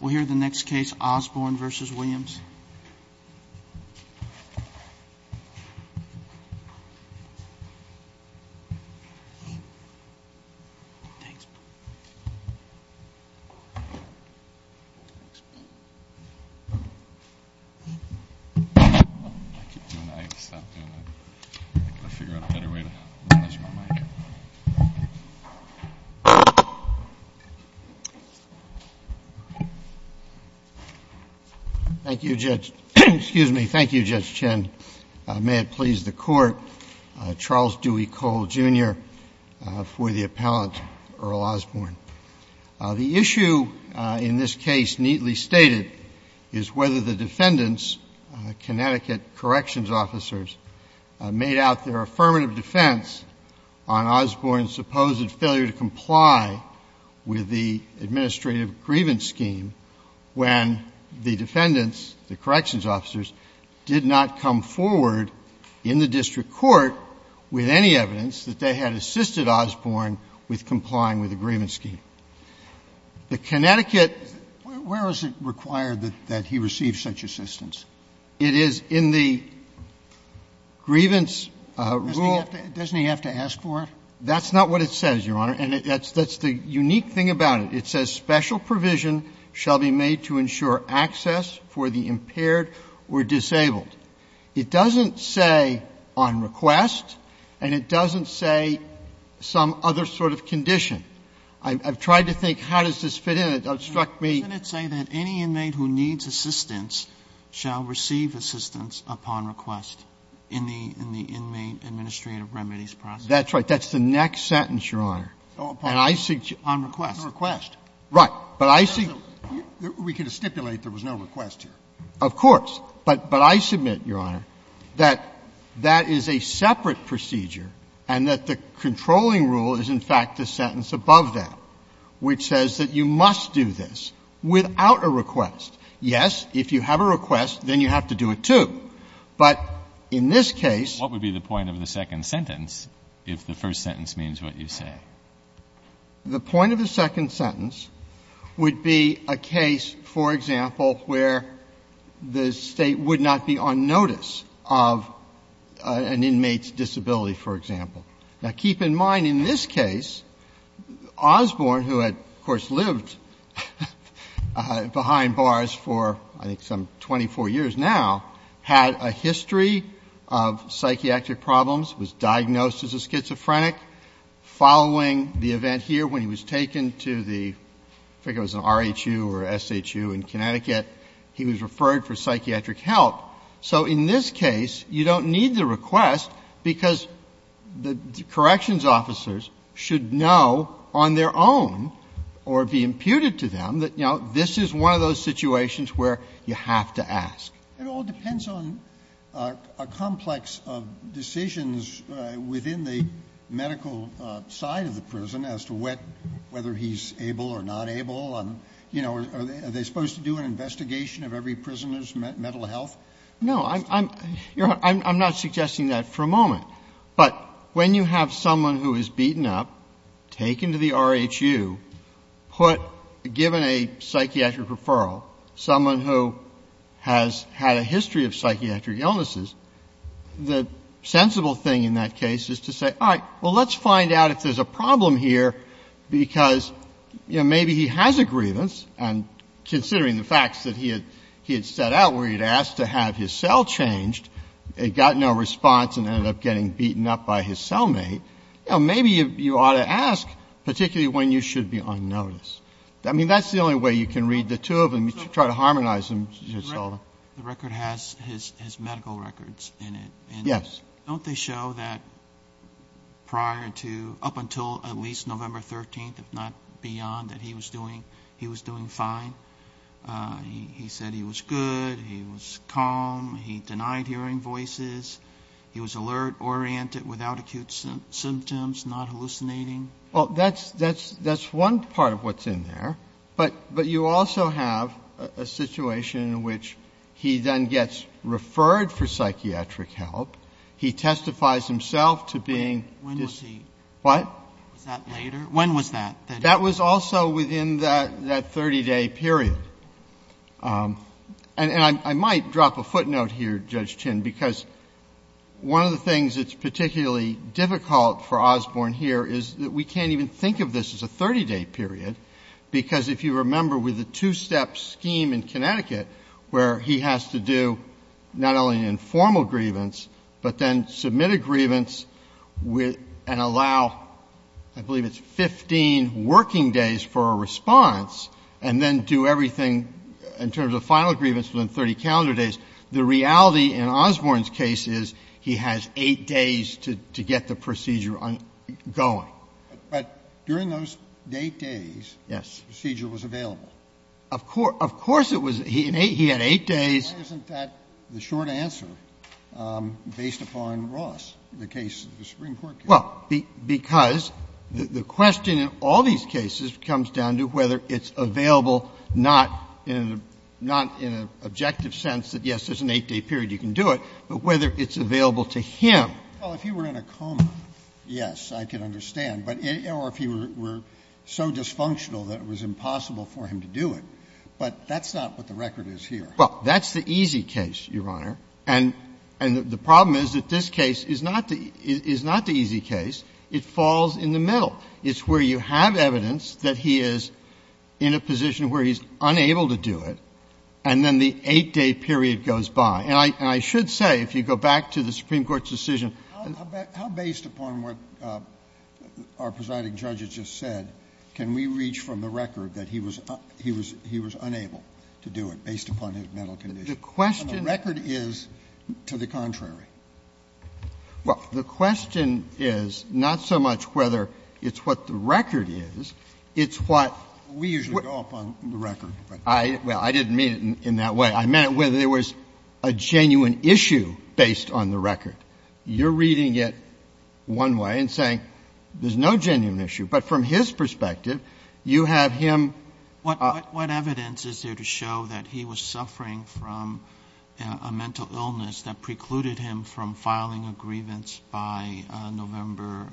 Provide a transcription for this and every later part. We'll hear the next case, Osborn v. Williams. Thank you, Judge — excuse me, thank you, Judge Chen. May it please the Court, Charles Dewey Cole, Jr., for the appellant, Earl Osborn. The issue in this case neatly stated is whether the defendants, Connecticut corrections officers, made out their affirmative defense on Osborn's supposed failure to comply with the administrative grievance scheme when the defendants, the corrections officers, did not come forward in the district court with any evidence that they had assisted Osborn with complying with the grievance scheme. The Connecticut — Where was it required that he receive such assistance? It is in the grievance rule. Doesn't he have to ask for it? That's not what it says, Your Honor, and that's the unique thing about it. It says special provision shall be made to ensure access for the impaired or disabled. It doesn't say on request, and it doesn't say some other sort of condition. I've tried to think how does this fit in. It struck me — And it says special provision shall receive assistance upon request in the inmate administrative remedies process. That's right. That's the next sentence, Your Honor. And I suggest — On request. On request. Right. But I see — We can stipulate there was no request here. Of course. But I submit, Your Honor, that that is a separate procedure and that the controlling rule is, in fact, the sentence above that, which says that you must do this without a request. Yes, if you have a request, then you have to do it, too. But in this case — What would be the point of the second sentence if the first sentence means what you say? The point of the second sentence would be a case, for example, where the State would not be on notice of an inmate's disability, for example. Now, keep in mind in this case, Osborne, who had, of course, lived behind bars for I think some 24 years now, had a history of psychiatric problems, was diagnosed as a schizophrenic. Following the event here, when he was taken to the — I think it was an R.H.U. or S.H.U. in Connecticut, he was referred for psychiatric help. So in this case, you don't need the request because the corrections officers should know on their own or be imputed to them that, you know, this is one of those situations where you have to ask. It all depends on a complex of decisions within the medical side of the prison as to whether he's able or not able and, you know, are they supposed to do an investigation of every prisoner's mental health? No. I'm not suggesting that for a moment. But when you have someone who is beaten up, taken to the R.H.U., put — given a psychiatric referral, someone who has had a history of psychiatric illnesses, the sensible thing in that case is to say, all right, well, let's find out if there's a problem here because, you know, maybe he has a grievance, and considering the facts that he had set out where he had asked to have his cell changed, it got no response and ended up getting beaten up by his cellmate, you know, maybe you ought to ask, particularly when you should be unnoticed. I mean, that's the only way you can read the two of them. You should try to harmonize them. The record has his medical records in it. Yes. Don't they show that prior to — up until at least November 13th, if not beyond, that he was doing fine? He said he was good, he was calm, he denied hearing voices, he was alert, oriented, without acute symptoms, not hallucinating. Well, that's one part of what's in there. But you also have a situation in which he then gets referred for psychiatric help. He testifies himself to being — When was he? What? Was that later? When was that? That was also within that 30-day period. And I might drop a footnote here, Judge Chin, because one of the things that's particularly difficult for Osborne here is that we can't even think of this as a 30-day period because, if you remember, with the two-step scheme in Connecticut where he has to do not only informal grievance but then submit a grievance and allow, I believe it's 15 working days for a response and then do everything in terms of final grievance within 30 calendar days. The reality in Osborne's case is he has 8 days to get the procedure going. But during those 8 days — Yes. The procedure was available. Of course it was. He had 8 days. Why isn't that the short answer based upon Ross, the case of the Supreme Court case? Well, because the question in all these cases comes down to whether it's available not in a — not in an objective sense that, yes, there's an 8-day period, you can do it, but whether it's available to him. Well, if he were in a coma, yes, I can understand. But if he were so dysfunctional that it was impossible for him to do it. But that's not what the record is here. Well, that's the easy case, Your Honor. And the problem is that this case is not the easy case. It falls in the middle. It's where you have evidence that he is in a position where he's unable to do it, and then the 8-day period goes by. And I should say, if you go back to the Supreme Court's decision — But how based upon what our presiding judge has just said can we reach from the record that he was unable to do it based upon his mental condition? And the record is to the contrary. Well, the question is not so much whether it's what the record is. It's what — We usually go upon the record. Well, I didn't mean it in that way. I meant whether there was a genuine issue based on the record. You're reading it one way and saying there's no genuine issue. But from his perspective, you have him — What evidence is there to show that he was suffering from a mental illness that precluded him from filing a grievance by November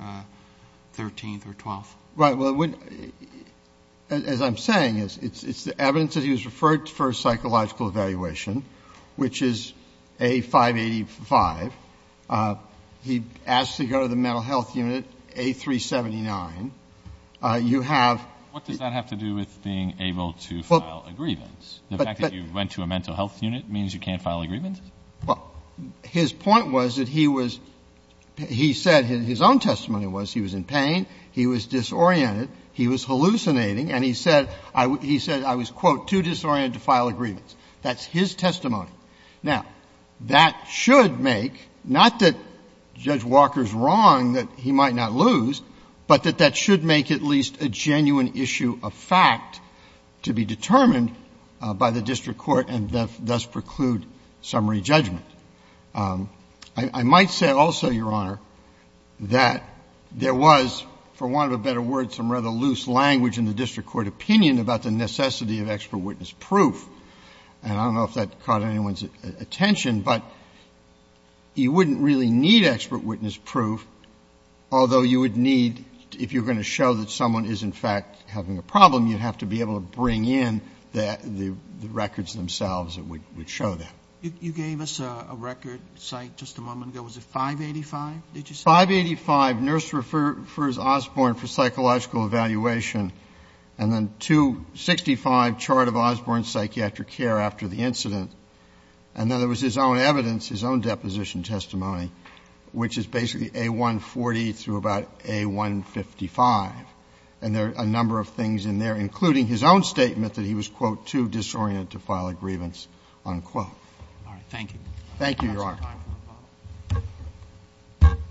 13th or 12th? Right. Well, as I'm saying, it's the evidence that he was referred for a psychological evaluation, which is A585. He asked to go to the mental health unit, A379. You have — What does that have to do with being able to file a grievance? The fact that you went to a mental health unit means you can't file a grievance? Well, his point was that he was — he said — his own testimony was he was in pain, he was disoriented, he was hallucinating, and he said — he said, I was, quote, too disoriented to file a grievance. That's his testimony. Now, that should make — not that Judge Walker is wrong that he might not lose, but that that should make at least a genuine issue a fact to be determined by the district court and thus preclude summary judgment. I might say also, Your Honor, that there was, for want of a better word, some rather loose language in the district court opinion about the necessity of expert witness proof, and I don't know if that caught anyone's attention, but you wouldn't really need expert witness proof, although you would need — if you're going to show that someone is, in fact, having a problem, you'd have to be able to bring in the records themselves that would show that. You gave us a record site just a moment ago. Was it 585, did you say? 585, Nurse Refers Osborne for Psychological Evaluation, and then 265, Chart of Osborne Psychiatric Care After the Incident. And then there was his own evidence, his own deposition testimony, which is basically A140 through about A155. And there are a number of things in there, including his own statement that he was, quote, too disoriented to file a grievance, unquote. All right. Thank you, Your Honor. We have some time for a follow-up.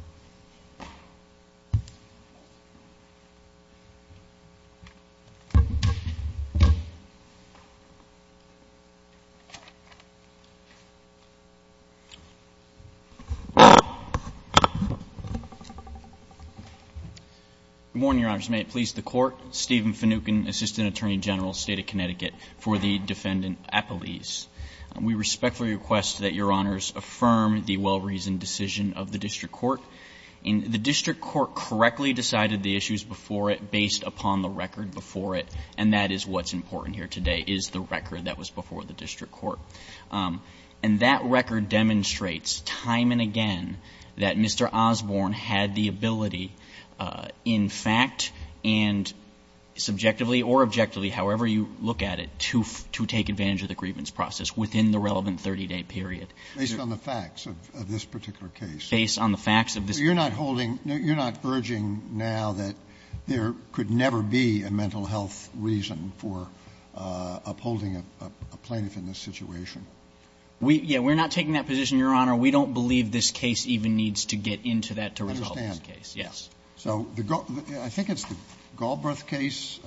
Good morning, Your Honors. May it please the Court. Stephen Finucane, Assistant Attorney General, State of Connecticut, for the Defendant Appellees. We respectfully request that Your Honors affirm the well-reasoned decision of the district court. The district court correctly decided the issues before it based upon the record before it, and that is what's important here today, is the record that was before the district court. And that record demonstrates time and again that Mr. Osborne had the ability, in fact, and subjectively or objectively, however you look at it, to take advantage of the grievance process within the relevant 30-day period. Based on the facts of this particular case? Based on the facts of this particular case. So you're not holding, you're not urging now that there could never be a mental health reason for upholding a plaintiff in this situation? Yeah. We're not taking that position, Your Honor. We don't believe this case even needs to get into that to resolve this case. Yes. So I think it's the Galbraith case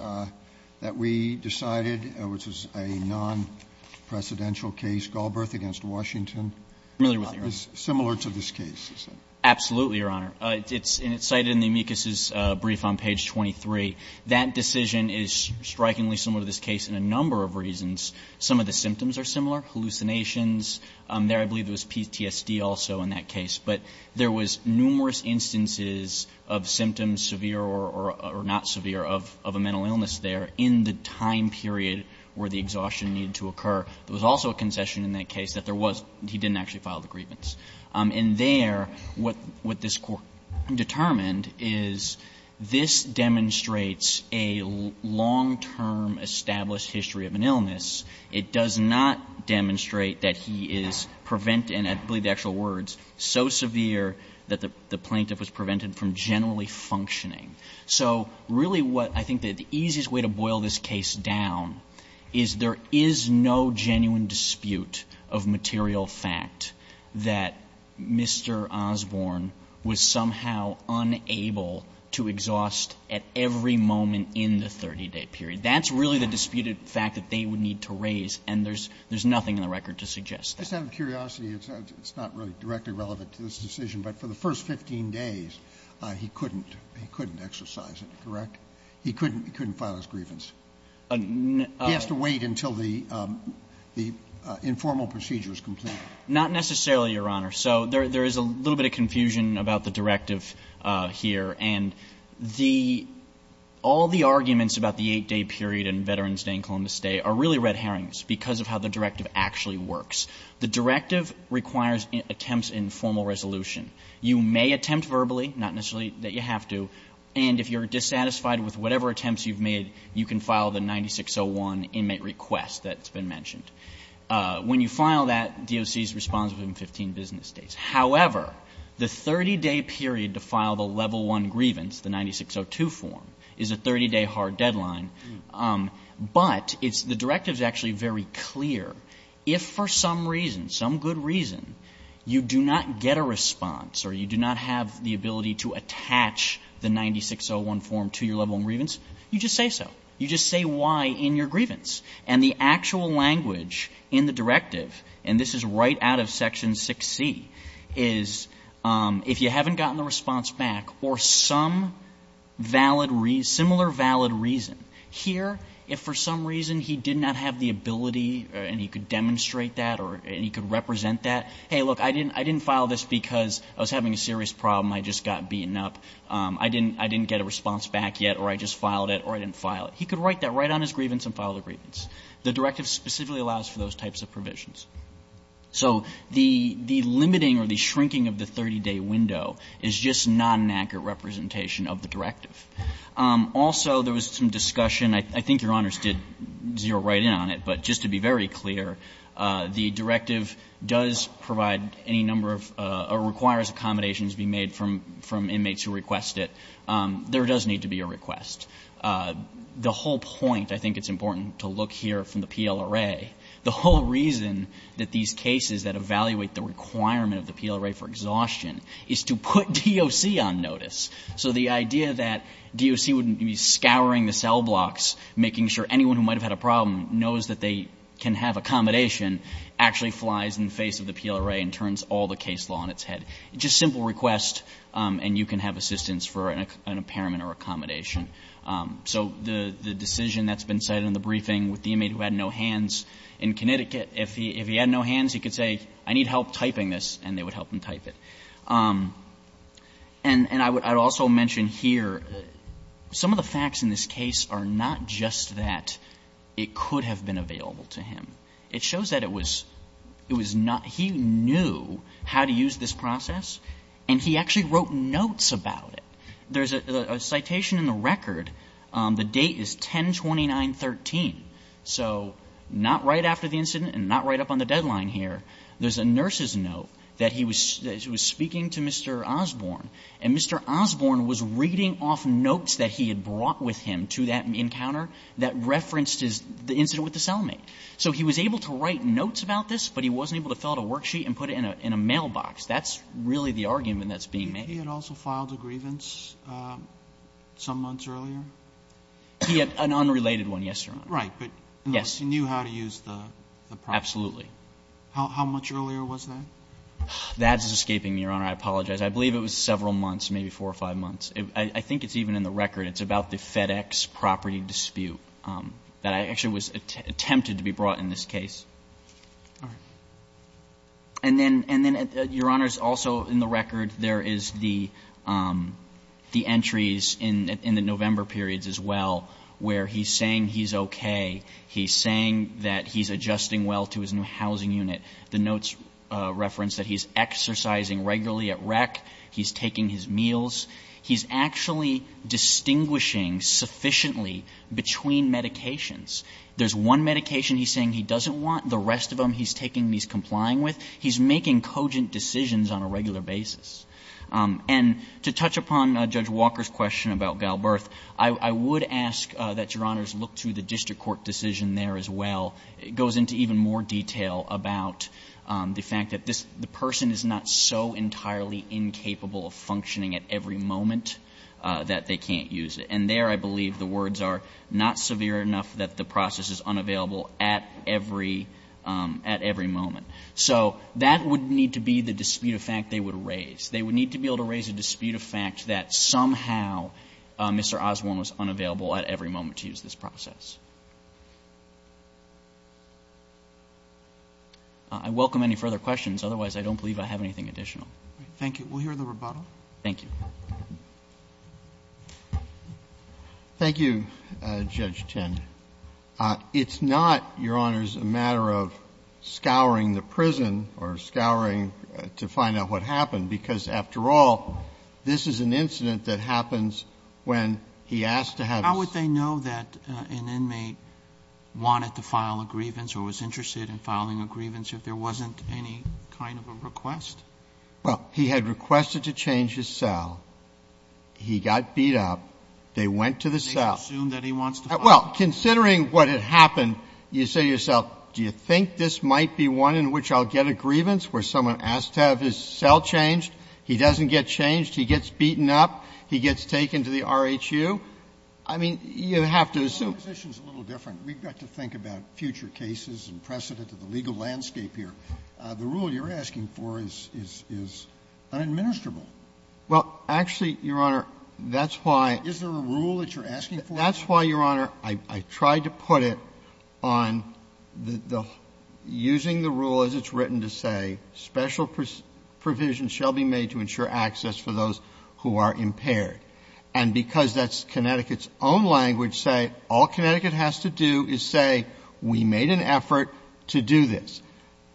that we decided, which is a non-precedential case, Galbraith against Washington. I'm familiar with that, Your Honor. It's similar to this case, is it? Absolutely, Your Honor. It's cited in the amicus' brief on page 23. That decision is strikingly similar to this case in a number of reasons. Some of the symptoms are similar, hallucinations. There I believe there was PTSD also in that case. But there was numerous instances of symptoms severe or not severe of a mental illness there in the time period where the exhaustion needed to occur. There was also a concession in that case that there was he didn't actually file the grievance. And there, what this Court determined is this demonstrates a long-term established history of an illness. It does not demonstrate that he is preventing, I believe the actual words, so severe that the plaintiff was prevented from generally functioning. So really what I think the easiest way to boil this case down is there is no genuine dispute of material fact that Mr. Osborne was somehow unable to exhaust at every moment in the 30-day period. That's really the disputed fact that they would need to raise. And there's nothing in the record to suggest that. Scalia. Just out of curiosity, it's not really directly relevant to this decision. But for the first 15 days, he couldn't exercise it, correct? He couldn't file his grievance. He has to wait until the informal procedure is complete. Not necessarily, Your Honor. So there is a little bit of confusion about the directive here. And the — all the arguments about the 8-day period and Veterans Day and Columbus Day are really red herrings because of how the directive actually works. The directive requires attempts in formal resolution. You may attempt verbally, not necessarily that you have to. And if you're dissatisfied with whatever attempts you've made, you can file the 9601 inmate request that's been mentioned. When you file that, DOC is responsible in 15 business days. However, the 30-day period to file the level 1 grievance, the 9602 form, is a 30-day hard deadline. But it's — the directive is actually very clear. If for some reason, some good reason, you do not get a response or you do not have the ability to attach the 9601 form to your level 1 grievance, you just say so. You just say why in your grievance. And the actual language in the directive, and this is right out of Section 6c, is if you haven't gotten the response back or some valid — similar valid reason. Here, if for some reason he did not have the ability and he could demonstrate that or he could represent that, hey, look, I didn't file this because I was having a serious problem. I just got beaten up. I didn't get a response back yet or I just filed it or I didn't file it. He could write that right on his grievance and file the grievance. The directive specifically allows for those types of provisions. So the — the limiting or the shrinking of the 30-day window is just not an accurate representation of the directive. Also, there was some discussion. I think Your Honors did zero right in on it. But just to be very clear, the directive does provide any number of — or requires accommodations be made from inmates who request it. There does need to be a request. The whole point — I think it's important to look here from the PLRA — the whole reason that these cases that evaluate the requirement of the PLRA for exhaustion is to put DOC on notice. So the idea that DOC wouldn't be scouring the cell blocks, making sure anyone who might have had a problem knows that they can have accommodation, actually flies in the face of the PLRA and turns all the case law on its head. Just simple request and you can have assistance for an impairment or accommodation. So the decision that's been cited in the briefing with the inmate who had no hands in Connecticut, if he had no hands, he could say, I need help typing this, and they would help him type it. And I would also mention here, some of the facts in this case are not just that it could have been available to him. It shows that it was — it was not — he knew how to use this process, and he actually wrote notes about it. There's a citation in the record. The date is 10-29-13. So not right after the incident and not right up on the deadline here, there's a nurse's note that he was speaking to Mr. Osborne. And Mr. Osborne was reading off notes that he had brought with him to that encounter that referenced the incident with the cellmate. So he was able to write notes about this, but he wasn't able to fill out a worksheet and put it in a mailbox. That's really the argument that's being made. He had also filed a grievance some months earlier? He had an unrelated one, yes, Your Honor. Right. But he knew how to use the process. Absolutely. How much earlier was that? That is escaping me, Your Honor. I apologize. I believe it was several months, maybe four or five months. I think it's even in the record. It's about the FedEx property dispute that actually was attempted to be brought in this case. All right. And then, Your Honor, also in the record there is the entries in the November periods as well where he's saying he's okay, he's saying that he's adjusting well to his new housing unit. The notes reference that he's exercising regularly at rec, he's taking his meals. He's actually distinguishing sufficiently between medications. There's one medication he's saying he doesn't want. The rest of them he's taking and he's complying with. He's making cogent decisions on a regular basis. And to touch upon Judge Walker's question about Galberth, I would ask that Your Honors look to the district court decision there as well. It goes into even more detail about the fact that this person is not so entirely incapable of functioning at every moment that they can't use it. And there I believe the words are, not severe enough that the process is unavailable at every moment. So that would need to be the dispute of fact they would raise. They would need to be able to raise a dispute of fact that somehow Mr. Osborne was unavailable at every moment to use this process. I welcome any further questions. Otherwise, I don't believe I have anything additional. Thank you. We'll hear the rebuttal. Thank you. Thank you, Judge Tind. It's not, Your Honors, a matter of scouring the prison or scouring to find out what happened, because after all, this is an incident that happens when he asked to have his ---- How would they know that an inmate wanted to file a grievance or was interested in filing a grievance if there wasn't any kind of a request? Well, he had requested to change his cell. He got beat up. They went to the cell. They assumed that he wants to file a grievance. Well, considering what had happened, you say to yourself, do you think this might be one in which I'll get a grievance where someone asks to have his cell changed? He doesn't get changed. He gets beaten up. He gets taken to the R.H.U. I mean, you have to assume. My position is a little different. We've got to think about future cases and precedent of the legal landscape here. The rule you're asking for is unadministrable. Well, actually, Your Honor, that's why ---- Is there a rule that you're asking for? That's why, Your Honor, I tried to put it on the ---- using the rule as it's written to say, special provisions shall be made to ensure access for those who are impaired. And because that's Connecticut's own language, say, all Connecticut has to do is say, we made an effort to do this.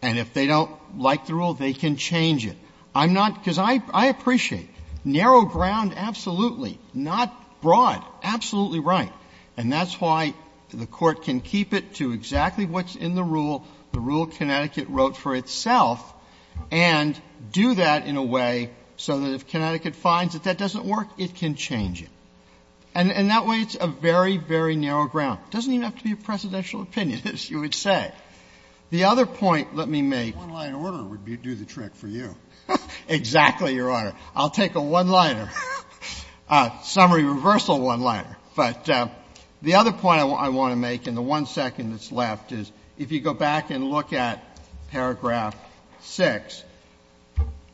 And if they don't like the rule, they can change it. I'm not ---- because I appreciate narrow ground, absolutely. Not broad. Absolutely right. And that's why the Court can keep it to exactly what's in the rule, the rule Connecticut wrote for itself, and do that in a way so that if Connecticut finds that that doesn't work, it can change it. And in that way, it's a very, very narrow ground. It doesn't even have to be a presidential opinion, as you would say. The other point, let me make ---- One-line order would do the trick for you. Exactly, Your Honor. I'll take a one-liner, a summary reversal one-liner. But the other point I want to make in the one second that's left is, if you go back and look at paragraph 6,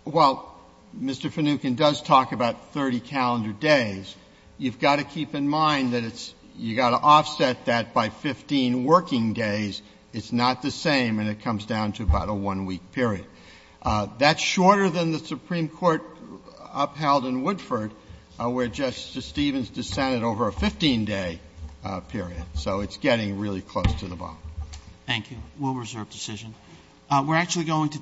while Mr. Finucane does talk about 30 calendar days, you've got to keep in mind that it's ---- you've got to offset that by 15 working days. It's not the same, and it comes down to about a one-week period. That's shorter than the Supreme Court upheld in Woodford, where Justice Stevens dissented over a 15-day period. So it's getting really close to the bottom. Thank you. We'll reserve decision.